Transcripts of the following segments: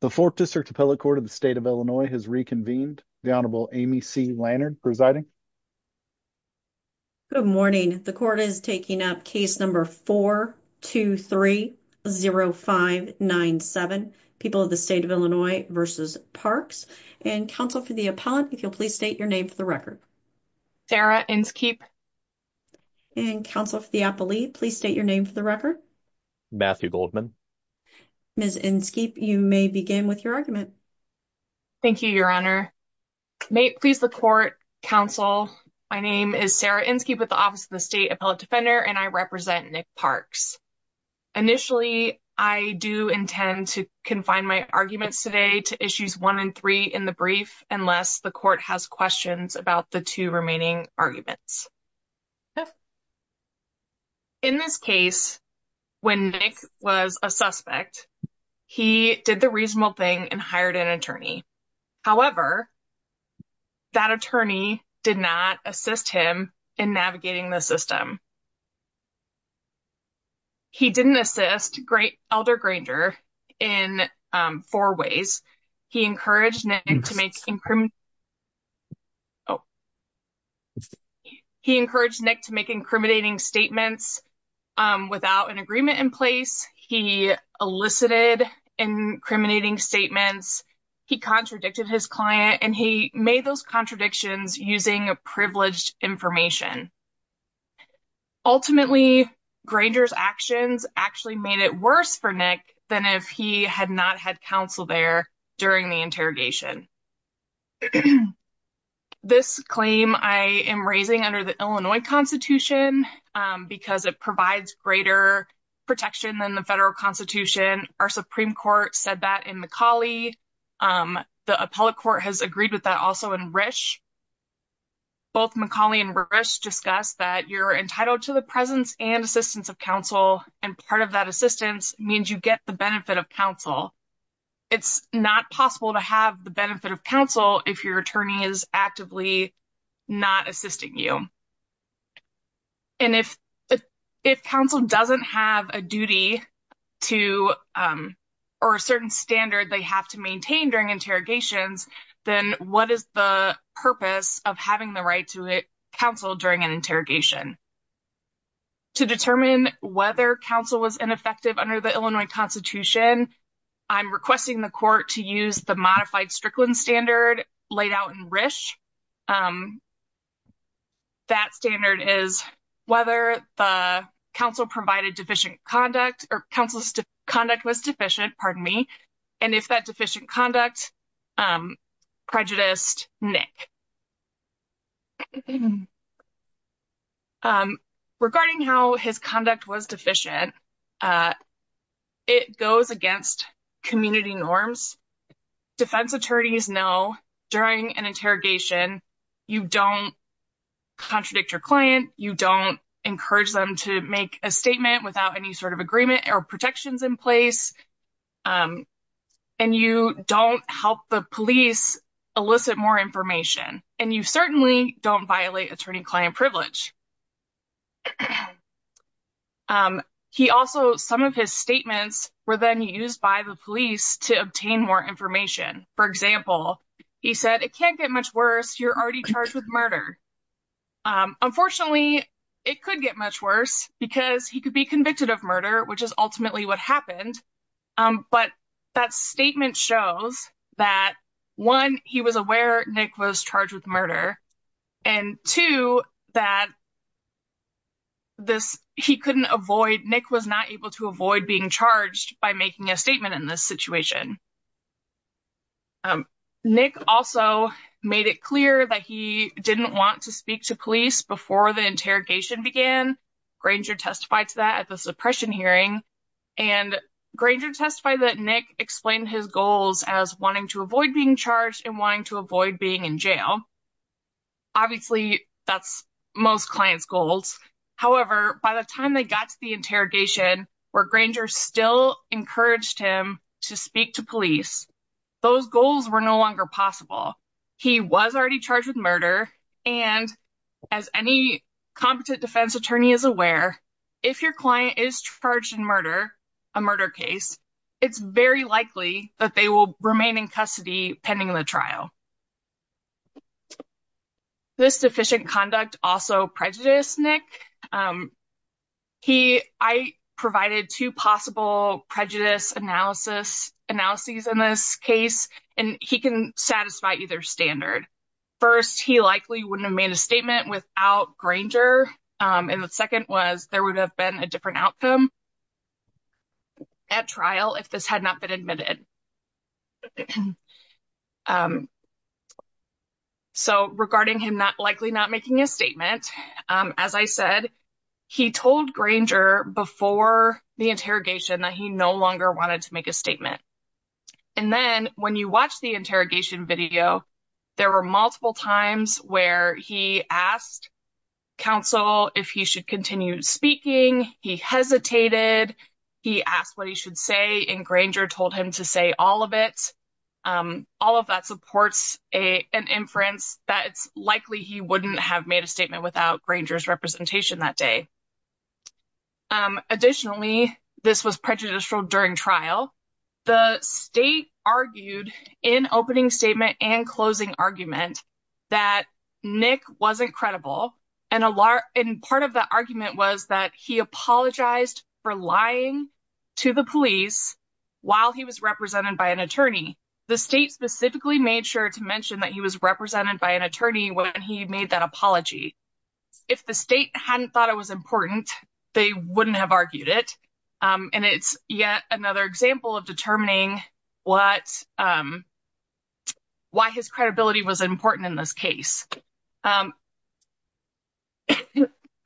The 4th District Appellate Court of the State of Illinois has reconvened. The Honorable Amy C. Lannard presiding. Good morning. The court is taking up case number 4-2-3-0-5-9-7, People of the State of Illinois v. Parks. And counsel for the appellant, if you'll please state your name for the record. Sarah Inskeep. And counsel for the appellee, please state your name for the record. Matthew Goldman. Ms. Inskeep, you may begin with your argument. Thank you, Your Honor. May it please the court, counsel, my name is Sarah Inskeep with the Office of the State Appellate Defender and I represent Nick Parks. Initially, I do intend to confine my arguments today to issues 1 and 3 in the brief unless the court has questions about the two remaining arguments. In this case, when Nick was a suspect, he did the reasonable thing and hired an attorney. However, that attorney did not assist him in navigating the system. He didn't assist Elder Granger in four ways. He encouraged Nick to make incriminating statements without an agreement in place. He elicited incriminating statements. He contradicted his client and he made those contradictions using privileged information. Ultimately, Granger's actions actually made it worse for Nick than if he had not had counsel there during the interrogation. This claim I am raising under the Illinois Constitution because it provides greater protection than the federal constitution. Our Supreme Court said that in McCauley. The appellate court has agreed with that also in Risch. Both McCauley and Risch discussed that you're entitled to the presence and assistance of counsel and part of that assistance means you get the benefit of counsel. It's not possible to have the benefit of counsel if your attorney is actively not assisting you. If counsel doesn't have a duty or a certain standard they have to maintain during interrogations, then what is the purpose of having the right to counsel during an interrogation? To determine whether counsel was ineffective under the Illinois Constitution, I'm requesting the court to use the modified Strickland standard laid out in Risch. That standard is whether the counsel provided deficient conduct or counsel's conduct was deficient, pardon me, and if that deficient conduct prejudiced Nick. Regarding how his conduct was deficient, it goes against community norms. Defense attorneys know during an interrogation you don't contradict your client. You don't encourage them to make a statement without any sort of agreement or protections in place. And you don't help the police elicit more information and you certainly don't violate attorney client privilege. He also, some of his statements were then used by the police to obtain more information. For example, he said, it can't get much worse. You're already charged with murder. Unfortunately, it could get much worse because he could be convicted of murder, which is ultimately what happened. But that statement shows that, one, he was aware Nick was charged with murder. And two, that he couldn't avoid, Nick was not able to avoid being charged by making a statement in this situation. Nick also made it clear that he didn't want to speak to police before the interrogation began. Granger testified to that at the suppression hearing. And Granger testified that Nick explained his goals as wanting to avoid being charged and wanting to avoid being in jail. Obviously, that's most clients' goals. However, by the time they got to the interrogation where Granger still encouraged him to speak to police, those goals were no longer possible. He was already charged with murder. And as any competent defense attorney is aware, if your client is charged in murder, a murder case, it's very likely that they will remain in custody pending the trial. This deficient conduct also prejudiced Nick. I provided two possible prejudice analyses in this case. And he can satisfy either standard. First, he likely wouldn't have made a statement without Granger. And the second was there would have been a different outcome at trial if this had not been admitted. So regarding him likely not making a statement, as I said, he told Granger before the interrogation that he no longer wanted to make a statement. And then when you watch the interrogation video, there were multiple times where he asked counsel if he should continue speaking. He hesitated. He asked what he should say. And Granger told him to say all of it. All of that supports an inference that it's likely he wouldn't have made a statement without Granger's representation that day. Additionally, this was prejudicial during trial. The state argued in opening statement and closing argument that Nick wasn't credible. And part of the argument was that he apologized for lying to the police while he was represented by an attorney. The state specifically made sure to mention that he was represented by an attorney when he made that apology. If the state hadn't thought it was important, they wouldn't have argued it. And it's yet another example of determining why his credibility was important in this case. I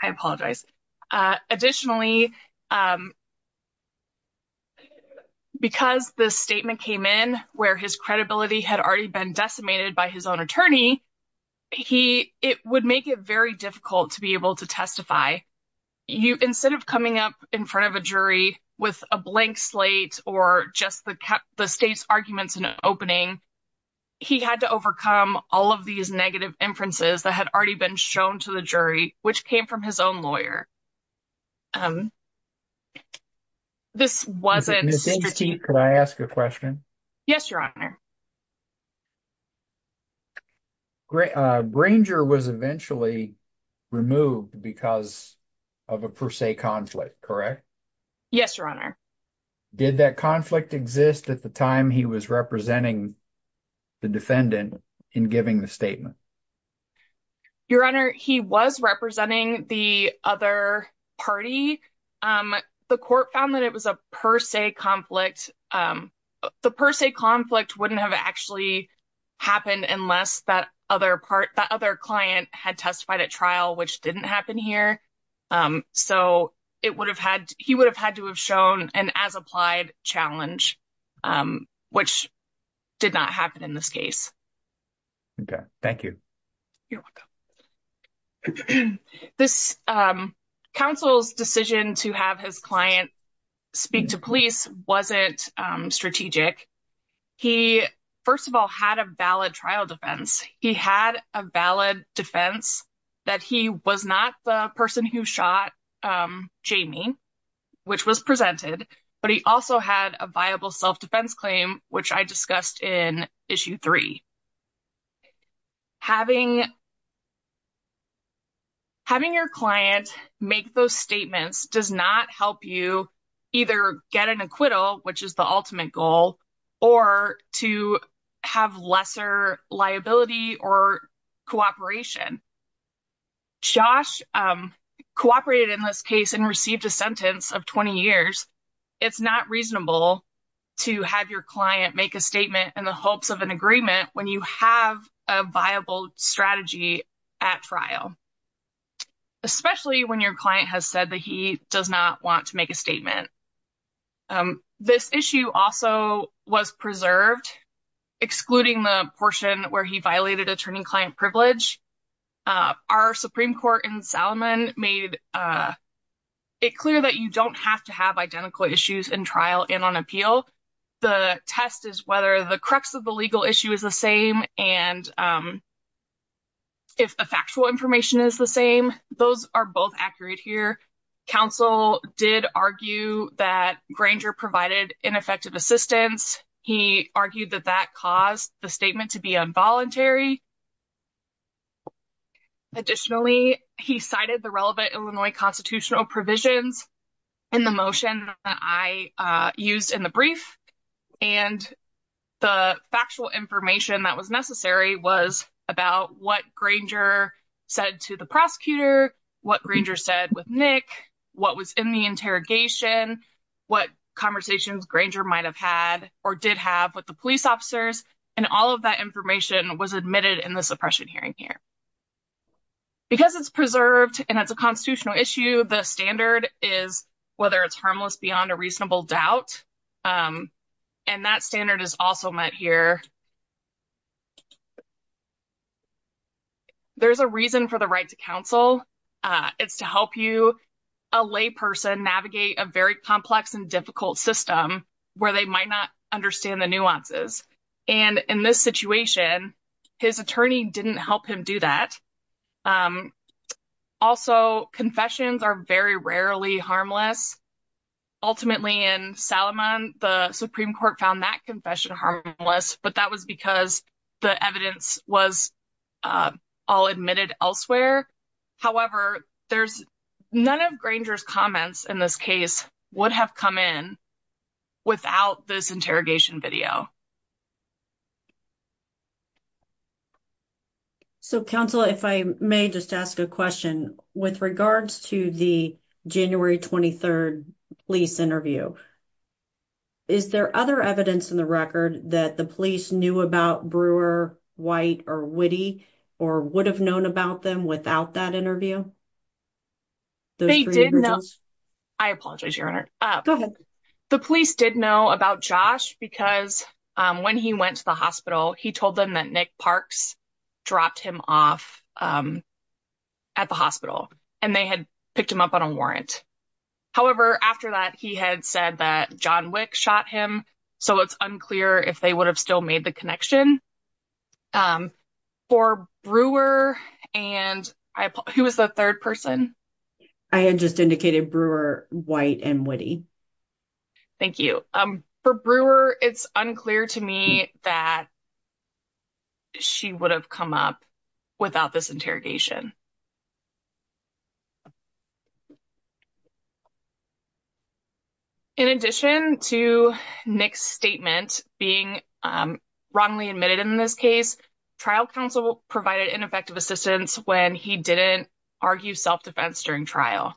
apologize. Additionally, because the statement came in where his credibility had already been decimated by his own attorney, it would make it very difficult to be able to testify. Instead of coming up in front of a jury with a blank slate or just the state's arguments in an opening, he had to overcome all of these negative inferences that had already been shown to the jury, which came from his own lawyer. This wasn't… Ms. Inderstein, can I ask a question? Yes, Your Honor. Granger was eventually removed because of a per se conflict, correct? Yes, Your Honor. Did that conflict exist at the time he was representing the defendant in giving the statement? Your Honor, he was representing the other party. The court found that it was a per se conflict. The per se conflict wouldn't have actually happened unless that other client had testified at trial, which didn't happen here. So, he would have had to have shown an as-applied challenge, which did not happen in this case. Okay. Thank you. You're welcome. This counsel's decision to have his client speak to police wasn't strategic. He, first of all, had a valid trial defense. He had a valid defense that he was not the person who shot Jamie, which was presented, but he also had a viable self-defense claim, which I discussed in Issue 3. Having your client make those statements does not help you either get an acquittal, which is the ultimate goal, or to have lesser liability or cooperation. Josh cooperated in this case and received a sentence of 20 years. It's not reasonable to have your client make a statement in the hopes of an agreement when you have a viable strategy at trial, especially when your client has said that he does not want to make a statement. This issue also was preserved, excluding the portion where he violated attorney-client privilege. Our Supreme Court in Salomon made it clear that you don't have to have identical issues in trial and on appeal. The test is whether the crux of the legal issue is the same, and if the factual information is the same. Those are both accurate here. Counsel did argue that Granger provided ineffective assistance. He argued that that caused the statement to be involuntary. Additionally, he cited the relevant Illinois constitutional provisions in the motion that I used in the brief, and the factual information that was necessary was about what Granger said to the prosecutor, what Granger said with Nick, what was in the interrogation, what conversations Granger might have had or did have with the police officers, and all of that information was admitted in the suppression hearing here. Because it's preserved and it's a constitutional issue, the standard is whether it's harmless beyond a reasonable doubt, and that standard is also met here. There's a reason for the right to counsel. It's to help you, a layperson, navigate a very complex and difficult system where they might not understand the nuances. And in this situation, his attorney didn't help him do that. Also, confessions are very rarely harmless. Ultimately, in Salomon, the Supreme Court found that confession harmless, but that was because the evidence was all admitted elsewhere. However, none of Granger's comments in this case would have come in without this interrogation video. So, counsel, if I may just ask a question, with regards to the January 23rd police interview, is there other evidence in the record that the police knew about Brewer, White, or Witte, or would have known about them without that interview? I apologize, Your Honor. Go ahead. The police did know about Josh because when he went to the hospital, he told them that Nick Parks dropped him off at the hospital, and they had picked him up on a warrant. However, after that, he had said that John Wick shot him, so it's unclear if they would have still made the connection. For Brewer, and who was the third person? I had just indicated Brewer, White, and Witte. Thank you. For Brewer, it's unclear to me that she would have come up without this interrogation. In addition to Nick's statement being wrongly admitted in this case, trial counsel provided ineffective assistance when he didn't argue self-defense during trial.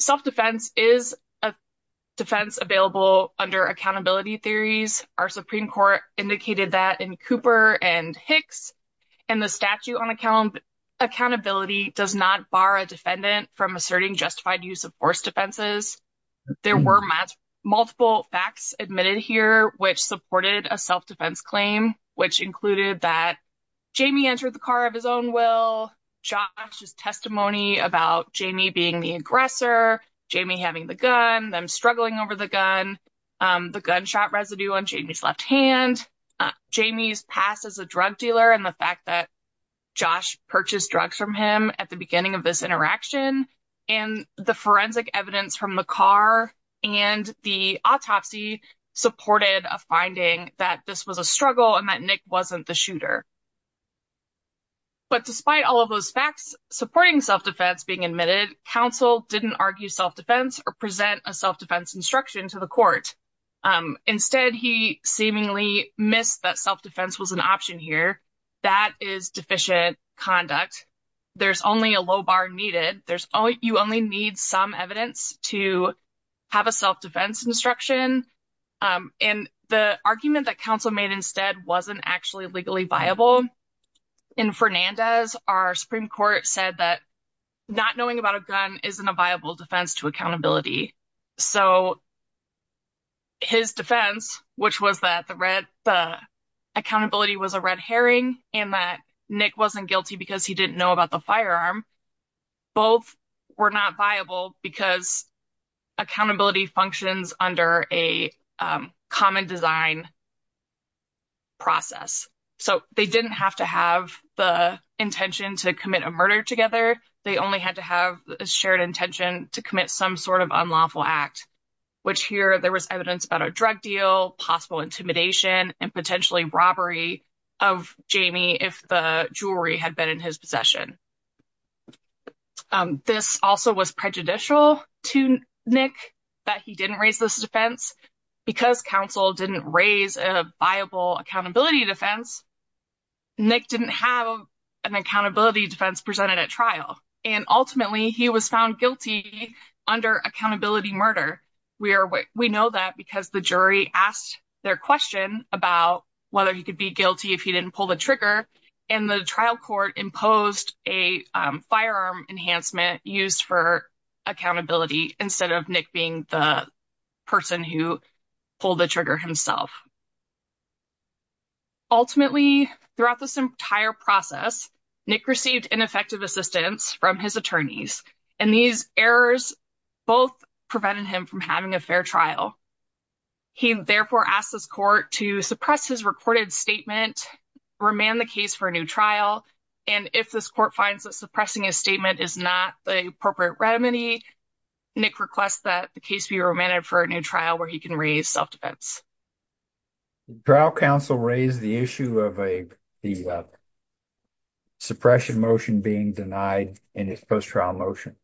Self-defense is a defense available under accountability theories. Our Supreme Court indicated that in Cooper and Hicks, and the statute on accountability does not bar a defendant from asserting justified use of force defenses. There were multiple facts admitted here which supported a self-defense claim, which included that Jamie entered the car of his own will, Josh's testimony about Jamie being the aggressor, Jamie having the gun, them struggling over the gun, the gunshot residue on Jamie's left hand, Jamie's past as a drug dealer and the fact that Josh purchased drugs from him at the beginning of this interaction, and the forensic evidence from the car and the autopsy supported a finding that this was a struggle and that Nick wasn't the shooter. But despite all of those facts supporting self-defense being admitted, counsel didn't argue self-defense or present a self-defense instruction to the court. Instead, he seemingly missed that self-defense was an option here. That is deficient conduct. There's only a low bar needed. You only need some evidence to have a self-defense instruction. And the argument that counsel made instead wasn't actually legally viable. In Fernandez, our Supreme Court said that not knowing about a gun isn't a viable defense to accountability. So his defense, which was that the accountability was a red herring and that Nick wasn't guilty because he didn't know about the firearm, both were not viable because accountability functions under a common design process. So they didn't have to have the intention to commit a murder together. They only had to have a shared intention to commit some sort of unlawful act, which here there was evidence about a drug deal, possible intimidation and potentially robbery of Jamie if the jewelry had been in his possession. This also was prejudicial to Nick that he didn't raise this defense because counsel didn't raise a viable accountability defense. Nick didn't have an accountability defense presented at trial, and ultimately he was found guilty under accountability murder. We know that because the jury asked their question about whether he could be guilty if he didn't pull the trigger. And the trial court imposed a firearm enhancement used for accountability instead of Nick being the person who pulled the trigger himself. Ultimately, throughout this entire process, Nick received ineffective assistance from his attorneys, and these errors both prevented him from having a fair trial. He therefore asked this court to suppress his recorded statement, remand the case for a new trial. And if this court finds that suppressing a statement is not the appropriate remedy, Nick requests that the case be remanded for a new trial where he can raise self-defense. Trial counsel raised the issue of a suppression motion being denied in his post-trial motion.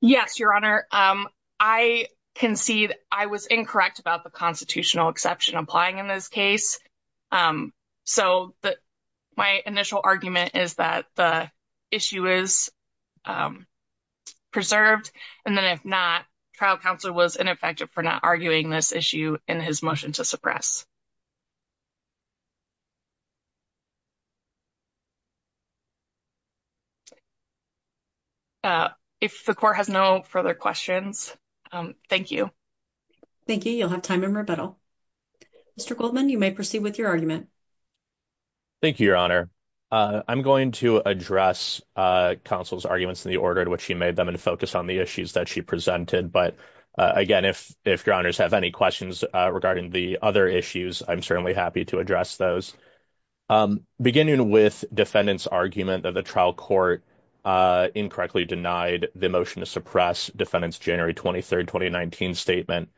Yes, Your Honor, I concede I was incorrect about the constitutional exception applying in this case. So my initial argument is that the issue is preserved. And then if not, trial counsel was ineffective for not arguing this issue in his motion to suppress. If the court has no further questions, thank you. Thank you. You'll have time in rebuttal. Mr. Goldman, you may proceed with your argument. Thank you, Your Honor. I'm going to address counsel's arguments in the order in which he made them and focus on the issues that she presented. But again, if if your honors have any questions regarding the other issues, I'm certainly happy to address those. Beginning with defendants argument that the trial court incorrectly denied the motion to suppress defendants January 23rd, 2019 statement.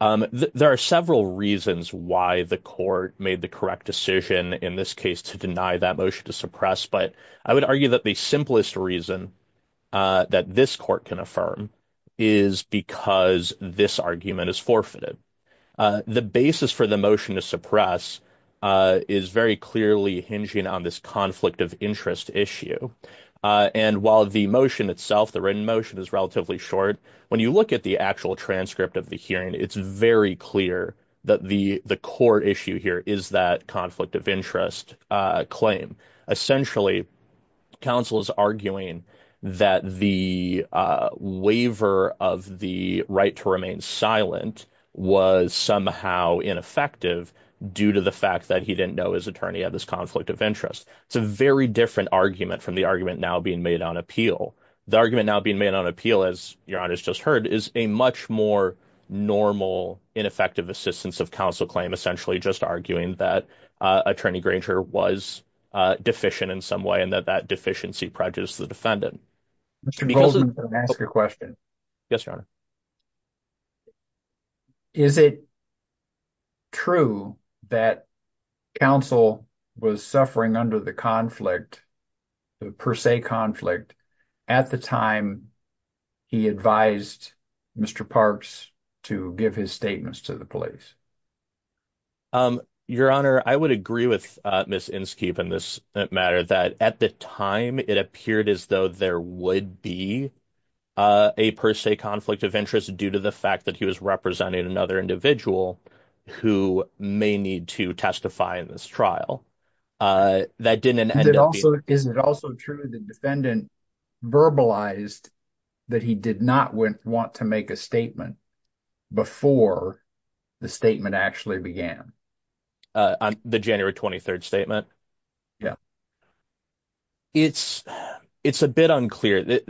There are several reasons why the court made the correct decision in this case to deny that motion to suppress. But I would argue that the simplest reason that this court can affirm is because this argument is forfeited. The basis for the motion to suppress is very clearly hinging on this conflict of interest issue. And while the motion itself, the written motion is relatively short. When you look at the actual transcript of the hearing, it's very clear that the the court issue here is that conflict of interest claim. Essentially, counsel is arguing that the waiver of the right to remain silent was somehow ineffective due to the fact that he didn't know his attorney had this conflict of interest. It's a very different argument from the argument now being made on appeal. The argument now being made on appeal, as your honor has just heard, is a much more normal, ineffective assistance of counsel claim. Essentially just arguing that attorney Granger was deficient in some way and that that deficiency prejudice the defendant. Ask a question. Yes, your honor. Is it true that counsel was suffering under the conflict per se conflict at the time he advised Mr. Parks to give his statements to the police? Your honor, I would agree with Miss Inskeep in this matter that at the time it appeared as though there would be a per se conflict of interest due to the fact that he was representing another individual who may need to testify in this trial. That didn't end it. Also, is it also true the defendant verbalized that he did not want to make a statement before the statement actually began on the January 23rd statement? Yeah, it's it's a bit unclear.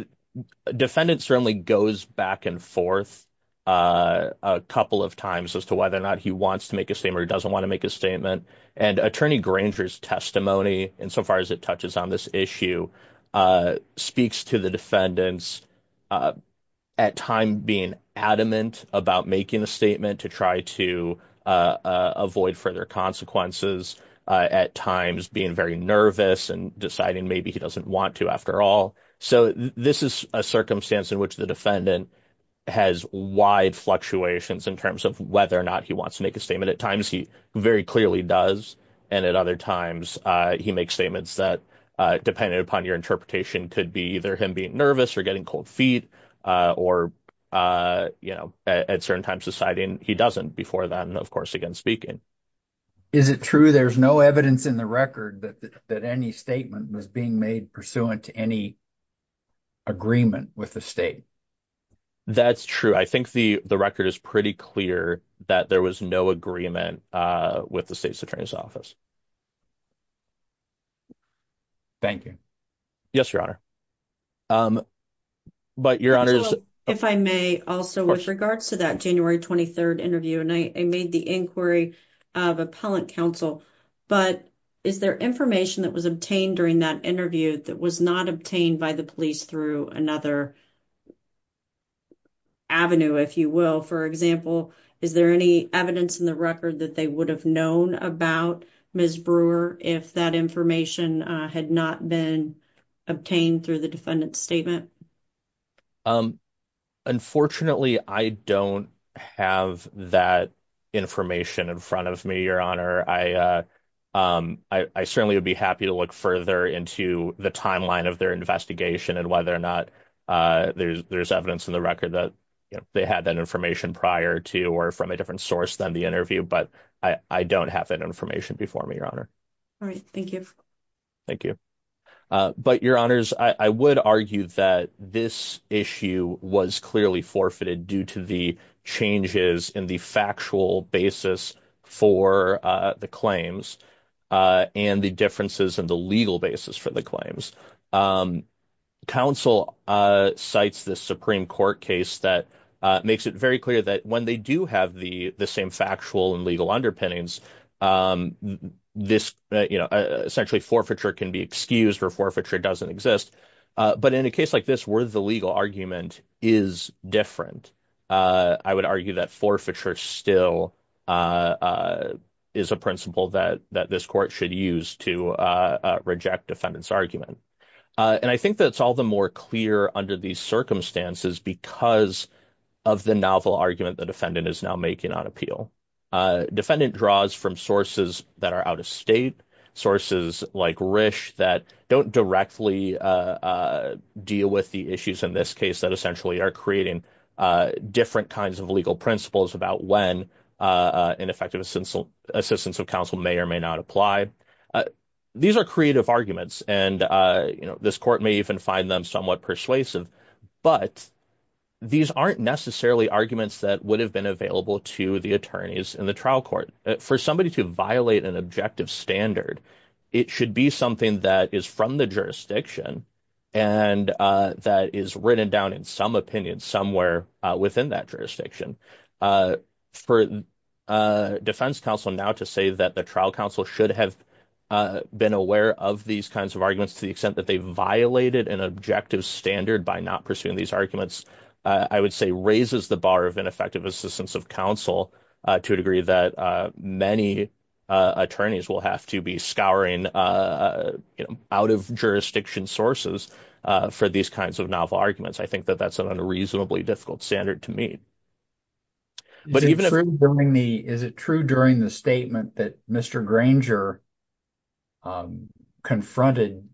Defendant certainly goes back and forth a couple of times as to whether or not he wants to make a statement or doesn't want to make a statement. And attorney Granger's testimony, insofar as it touches on this issue, speaks to the defendants at time being adamant about making a statement to try to avoid further consequences, at times being very nervous and deciding maybe he doesn't want to after all. So this is a circumstance in which the defendant has wide fluctuations in terms of whether or not he wants to make a statement. At times, he very clearly does. And at other times he makes statements that, depending upon your interpretation, could be either him being nervous or getting cold feet or, you know, at certain times deciding he doesn't before then, of course, again speaking. Is it true there's no evidence in the record that any statement was being made pursuant to any agreement with the state? That's true. I think the record is pretty clear that there was no agreement with the state's attorney's office. Thank you. Yes, Your Honor. If I may, also with regards to that January 23rd interview, and I made the inquiry of appellant counsel, but is there information that was obtained during that interview that was not obtained by the police through another avenue, if you will? For example, is there any evidence in the record that they would have known about Ms. Brewer if that information had not been obtained through the defendant's statement? Unfortunately, I don't have that information in front of me, Your Honor. I certainly would be happy to look further into the timeline of their investigation and whether or not there's evidence in the record that they had that information prior to or from a different source than the interview. But I don't have that information before me, Your Honor. All right. Thank you. Thank you. But, Your Honors, I would argue that this issue was clearly forfeited due to the changes in the factual basis for the claims and the differences in the legal basis for the claims. Counsel cites the Supreme Court case that makes it very clear that when they do have the same factual and legal underpinnings, essentially forfeiture can be excused or forfeiture doesn't exist. But in a case like this where the legal argument is different, I would argue that forfeiture still is a principle that this court should use to reject defendant's argument. And I think that's all the more clear under these circumstances because of the novel argument the defendant is now making on appeal. Defendant draws from sources that are out of state, sources like Rish that don't directly deal with the issues in this case that essentially are creating different kinds of legal principles about when an effective assistance of counsel may or may not apply. These are creative arguments, and this court may even find them somewhat persuasive, but these aren't necessarily arguments that would have been available to the attorneys in the trial court. For somebody to violate an objective standard, it should be something that is from the jurisdiction and that is written down in some opinion somewhere within that jurisdiction. For defense counsel now to say that the trial counsel should have been aware of these kinds of arguments to the extent that they violated an objective standard by not pursuing these arguments, I would say raises the bar of ineffective assistance of counsel to a degree that many attorneys will have to be scouring out of jurisdiction sources for these kinds of novel arguments. I think that that's an unreasonably difficult standard to meet. Is it true during the statement that Mr. Granger confronted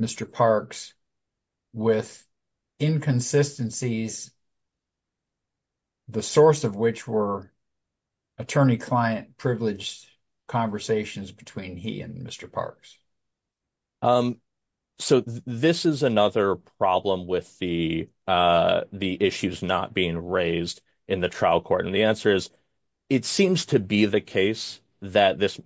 Mr. Parks with inconsistencies, the source of which were attorney-client privileged conversations between he and Mr. Parks? So this is another problem with the issues not being raised in the trial court, and the answer is it seems to be the case that this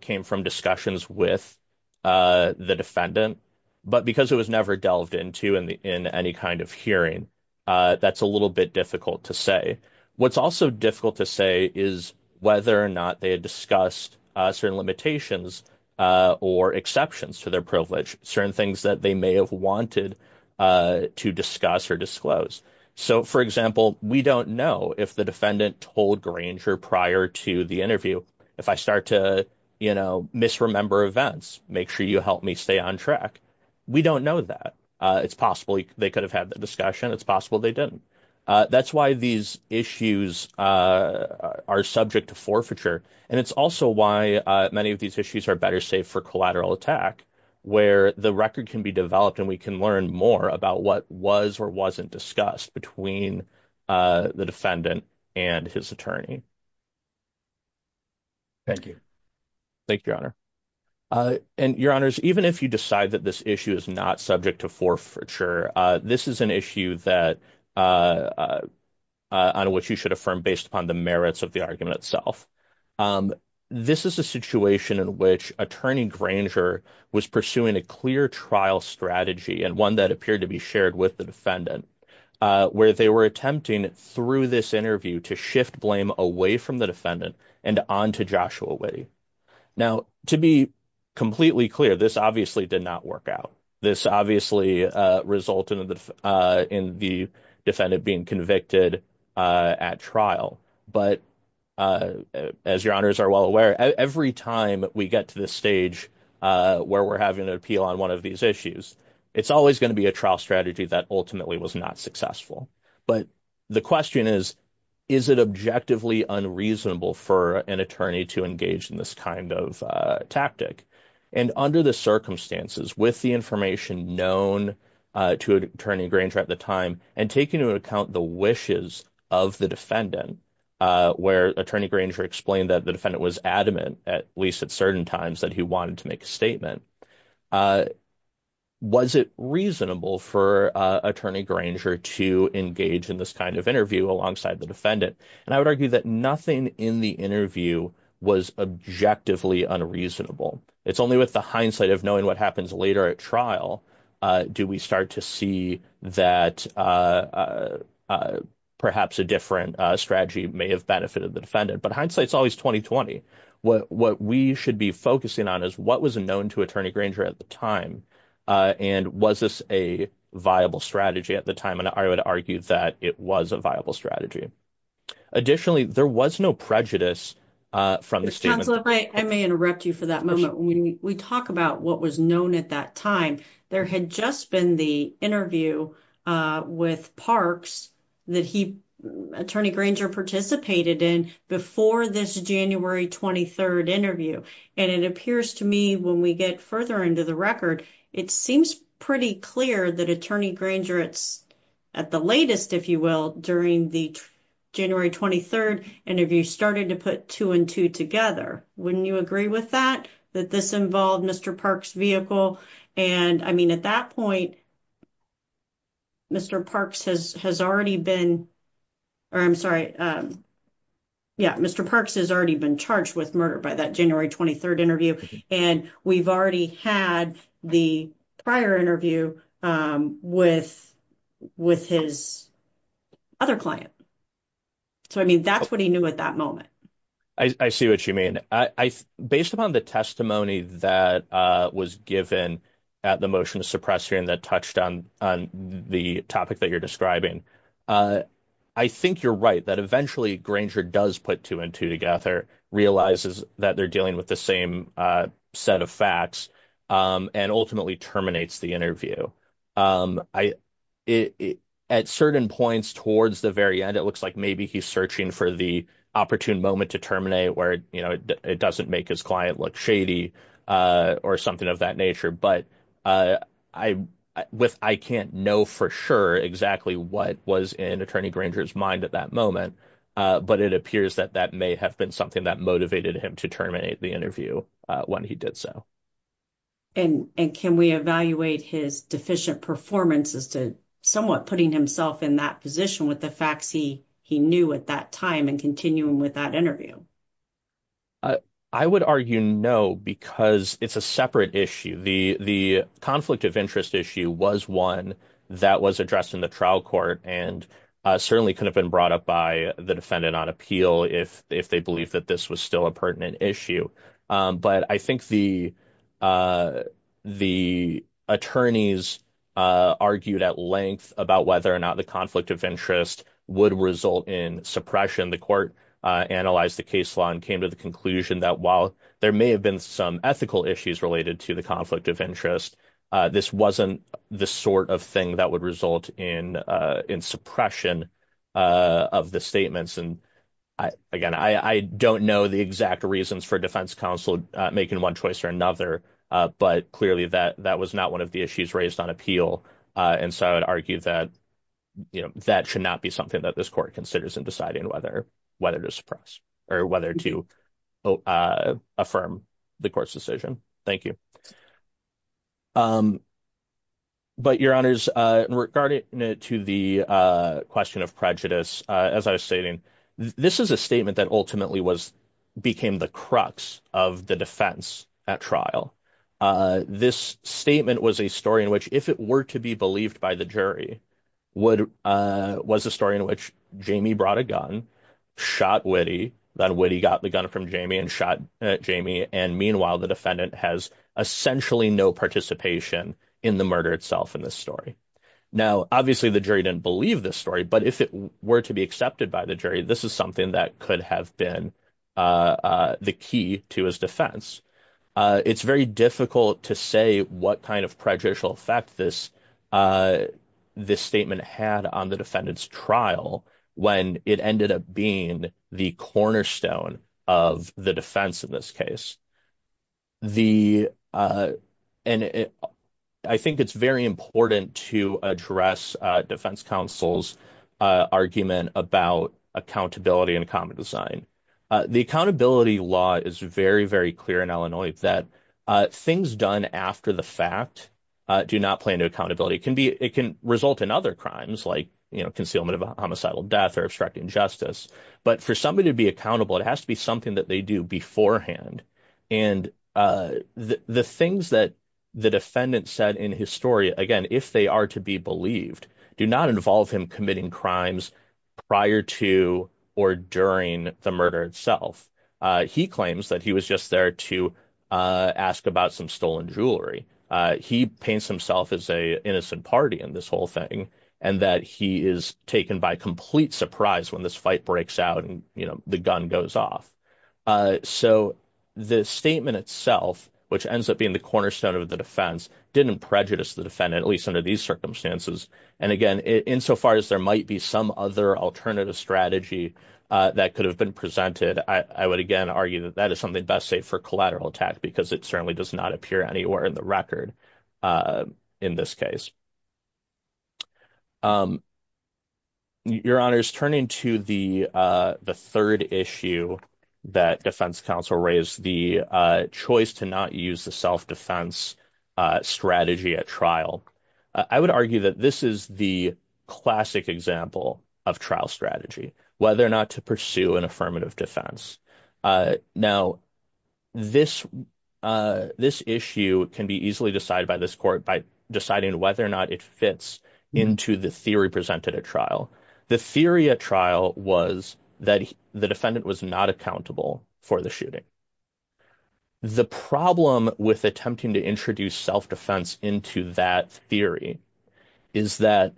came from discussions with the defendant, but because it was never delved into in any kind of hearing, that's a little bit difficult to say. What's also difficult to say is whether or not they had discussed certain limitations or exceptions to their privilege, certain things that they may have wanted to discuss or disclose. So, for example, we don't know if the defendant told Granger prior to the interview, if I start to misremember events, make sure you help me stay on track. We don't know that. It's possible they could have had the discussion. It's possible they didn't. That's why these issues are subject to forfeiture, and it's also why many of these issues are better safe for collateral attack, where the record can be developed and we can learn more about what was or wasn't discussed between the defendant and his attorney. Thank you. Thank you, Your Honor. And, Your Honors, even if you decide that this issue is not subject to forfeiture, this is an issue that – on which you should affirm based upon the merits of the argument itself. This is a situation in which attorney Granger was pursuing a clear trial strategy and one that appeared to be shared with the defendant, where they were attempting through this interview to shift blame away from the defendant and onto Joshua Witte. Now, to be completely clear, this obviously did not work out. This obviously resulted in the defendant being convicted at trial. But, as Your Honors are well aware, every time we get to this stage where we're having an appeal on one of these issues, it's always going to be a trial strategy that ultimately was not successful. But the question is, is it objectively unreasonable for an attorney to engage in this kind of tactic? And under the circumstances, with the information known to attorney Granger at the time, and taking into account the wishes of the defendant, where attorney Granger explained that the defendant was adamant, at least at certain times, that he wanted to make a statement, was it reasonable for attorney Granger to engage in this kind of interview alongside the defendant? And I would argue that nothing in the interview was objectively unreasonable. It's only with the hindsight of knowing what happens later at trial do we start to see that perhaps a different strategy may have benefited the defendant. But hindsight's always 20-20. What we should be focusing on is what was known to attorney Granger at the time, and was this a viable strategy at the time? And I would argue that it was a viable strategy. Additionally, there was no prejudice from the statement. I may interrupt you for that moment. When we talk about what was known at that time, there had just been the interview with Parks that attorney Granger participated in before this January 23rd interview. And it appears to me when we get further into the record, it seems pretty clear that attorney Granger, at the latest, if you will, during the January 23rd interview, started to put two and two together. Wouldn't you agree with that, that this involved Mr. Parks' vehicle? And, I mean, at that point, Mr. Parks has already been charged with murder by that January 23rd interview, and we've already had the prior interview with his other client. So, I mean, that's what he knew at that moment. I see what you mean. Based upon the testimony that was given at the motion to suppress hearing that touched on the topic that you're describing, I think you're right that eventually Granger does put two and two together, realizes that they're dealing with the same set of facts, and ultimately terminates the interview. At certain points towards the very end, it looks like maybe he's searching for the opportune moment to terminate where it doesn't make his client look shady or something of that nature. But I can't know for sure exactly what was in attorney Granger's mind at that moment, but it appears that that may have been something that motivated him to terminate the interview when he did so. And can we evaluate his deficient performance as to somewhat putting himself in that position with the facts he knew at that time and continuing with that interview? I would argue no, because it's a separate issue. The conflict of interest issue was one that was addressed in the trial court and certainly could have been brought up by the defendant on appeal if they believe that this was still a pertinent issue. But I think the attorneys argued at length about whether or not the conflict of interest would result in suppression. The court analyzed the case law and came to the conclusion that while there may have been some ethical issues related to the conflict of interest, this wasn't the sort of thing that would result in suppression of the statements. And again, I don't know the exact reasons for defense counsel making one choice or another, but clearly that that was not one of the issues raised on appeal. And so I would argue that that should not be something that this court considers in deciding whether whether to suppress or whether to affirm the court's decision. Thank you. But your honors, regarding to the question of prejudice, as I was stating, this is a statement that ultimately was became the crux of the defense at trial. Now, obviously, the jury didn't believe this story, but if it were to be accepted by the jury, this is something that could have been the key to his defense. It's very difficult to say what kind of prejudicial effect this this statement had on the defendant's trial when it ended up being the cornerstone of the defense in this case. The and I think it's very important to address defense counsel's argument about accountability and common design. The accountability law is very, very clear in Illinois that things done after the fact do not play into accountability. It can be it can result in other crimes like concealment of a homicidal death or obstructing justice. But for somebody to be accountable, it has to be something that they do beforehand. And the things that the defendant said in his story again, if they are to be believed, do not involve him committing crimes prior to or during the murder itself. He claims that he was just there to ask about some stolen jewelry. He paints himself as a innocent party in this whole thing and that he is taken by complete surprise when this fight breaks out and the gun goes off. So the statement itself, which ends up being the cornerstone of the defense, didn't prejudice the defendant, at least under these circumstances. And again, insofar as there might be some other alternative strategy that could have been presented. I would, again, argue that that is something best safe for collateral attack because it certainly does not appear anywhere in the record in this case. Your honors, turning to the third issue that defense counsel raised, the choice to not use the self-defense strategy at trial. I would argue that this is the classic example of trial strategy, whether or not to pursue an affirmative defense. Now, this this issue can be easily decided by this court by deciding whether or not it fits into the theory presented at trial. The theory at trial was that the defendant was not accountable for the shooting. The problem with attempting to introduce self-defense into that theory is that.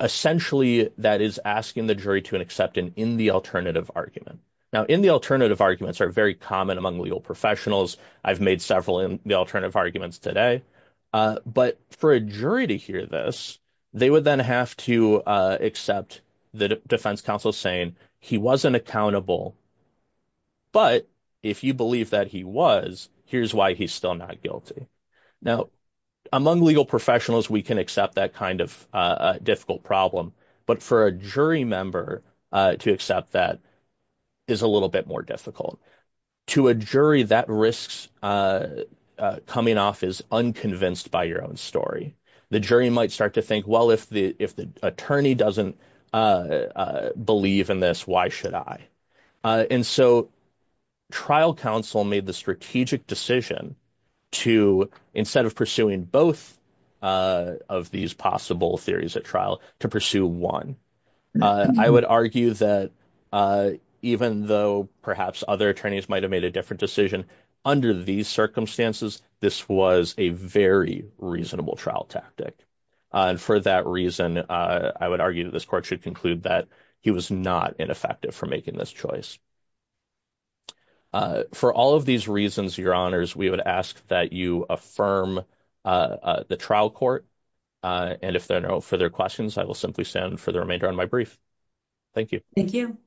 Essentially, that is asking the jury to an acceptance in the alternative argument. Now, in the alternative arguments are very common among legal professionals. I've made several in the alternative arguments today. But for a jury to hear this, they would then have to accept the defense counsel saying he wasn't accountable. But if you believe that he was, here's why he's still not guilty. Now, among legal professionals, we can accept that kind of difficult problem. But for a jury member to accept that is a little bit more difficult to a jury that risks coming off is unconvinced by your own story. The jury might start to think, well, if the if the attorney doesn't believe in this, why should I? And so trial counsel made the strategic decision to instead of pursuing both of these possible theories at trial to pursue one. I would argue that even though perhaps other attorneys might have made a different decision under these circumstances, this was a very reasonable trial tactic. And for that reason, I would argue that this court should conclude that he was not ineffective for making this choice. For all of these reasons, your honors, we would ask that you affirm the trial court. And if there are no further questions, I will simply stand for the remainder on my brief. Thank you. Thank you,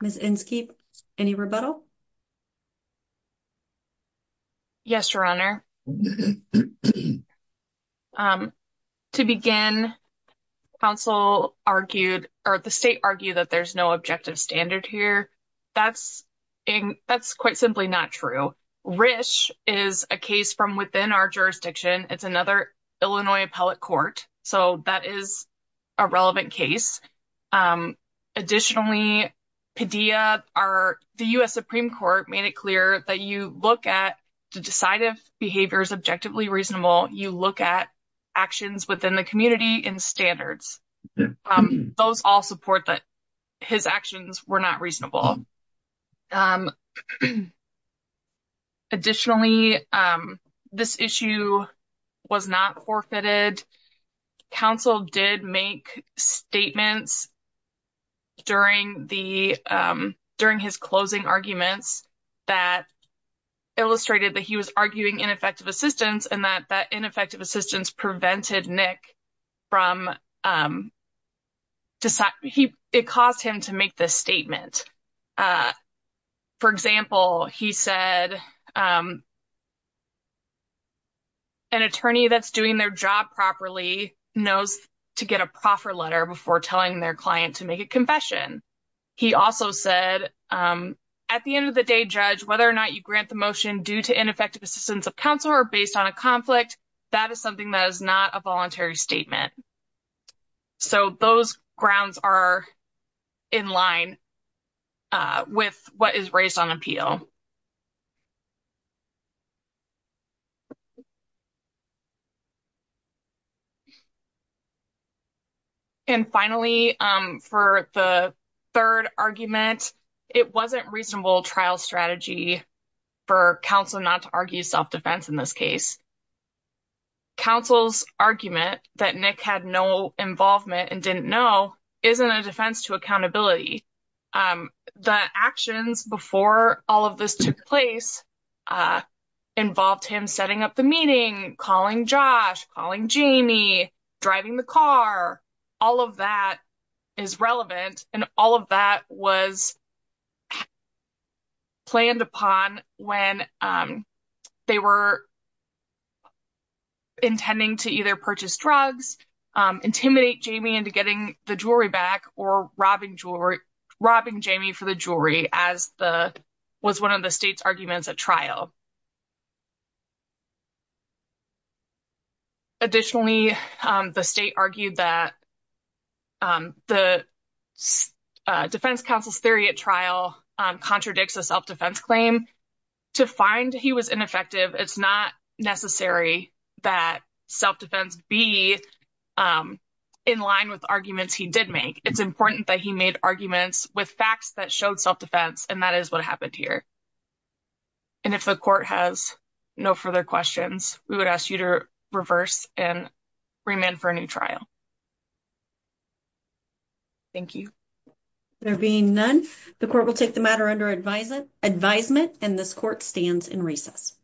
Miss Enske. Any rebuttal. Yes, your honor. To begin, counsel argued or the state argued that there's no objective standard here. That's that's quite simply not true. Rich is a case from within our jurisdiction. It's another Illinois appellate court. So that is a relevant case. Additionally, Padilla are the U.S. Supreme Court made it clear that you look at the decisive behaviors objectively reasonable. You look at actions within the community and standards. Those all support that his actions were not reasonable. Additionally, this issue was not forfeited. Counsel did make statements. During the during his closing arguments that. Illustrated that he was arguing ineffective assistance and that that ineffective assistance prevented Nick. From. It caused him to make this statement. For example, he said. An attorney that's doing their job properly knows to get a proper letter before telling their client to make a confession. He also said at the end of the day, judge, whether or not you grant the motion due to ineffective assistance of counsel or based on a conflict. That is something that is not a voluntary statement. So those grounds are in line. With what is raised on appeal. And finally, for the 3rd argument, it wasn't reasonable trial strategy. For counsel not to argue self defense in this case. Counsel's argument that Nick had no involvement and didn't know isn't a defense to accountability. The actions before all of this took place. Involved him setting up the meeting, calling Josh, calling Jamie driving the car. All of that is relevant and all of that was. Planned upon when they were. Intending to either purchase drugs, intimidate Jamie into getting the jury back or robbing jewelry, robbing Jamie for the jury as the. Was 1 of the state's arguments at trial. Additionally, the state argued that. The defense counsel's theory at trial contradicts a self defense claim. To find he was ineffective, it's not necessary that self defense be. In line with arguments he did make, it's important that he made arguments with facts that showed self defense and that is what happened here. And if the court has no further questions, we would ask you to reverse and. Remand for a new trial, thank you. There being none, the court will take the matter under advising advisement and this court stands in recess.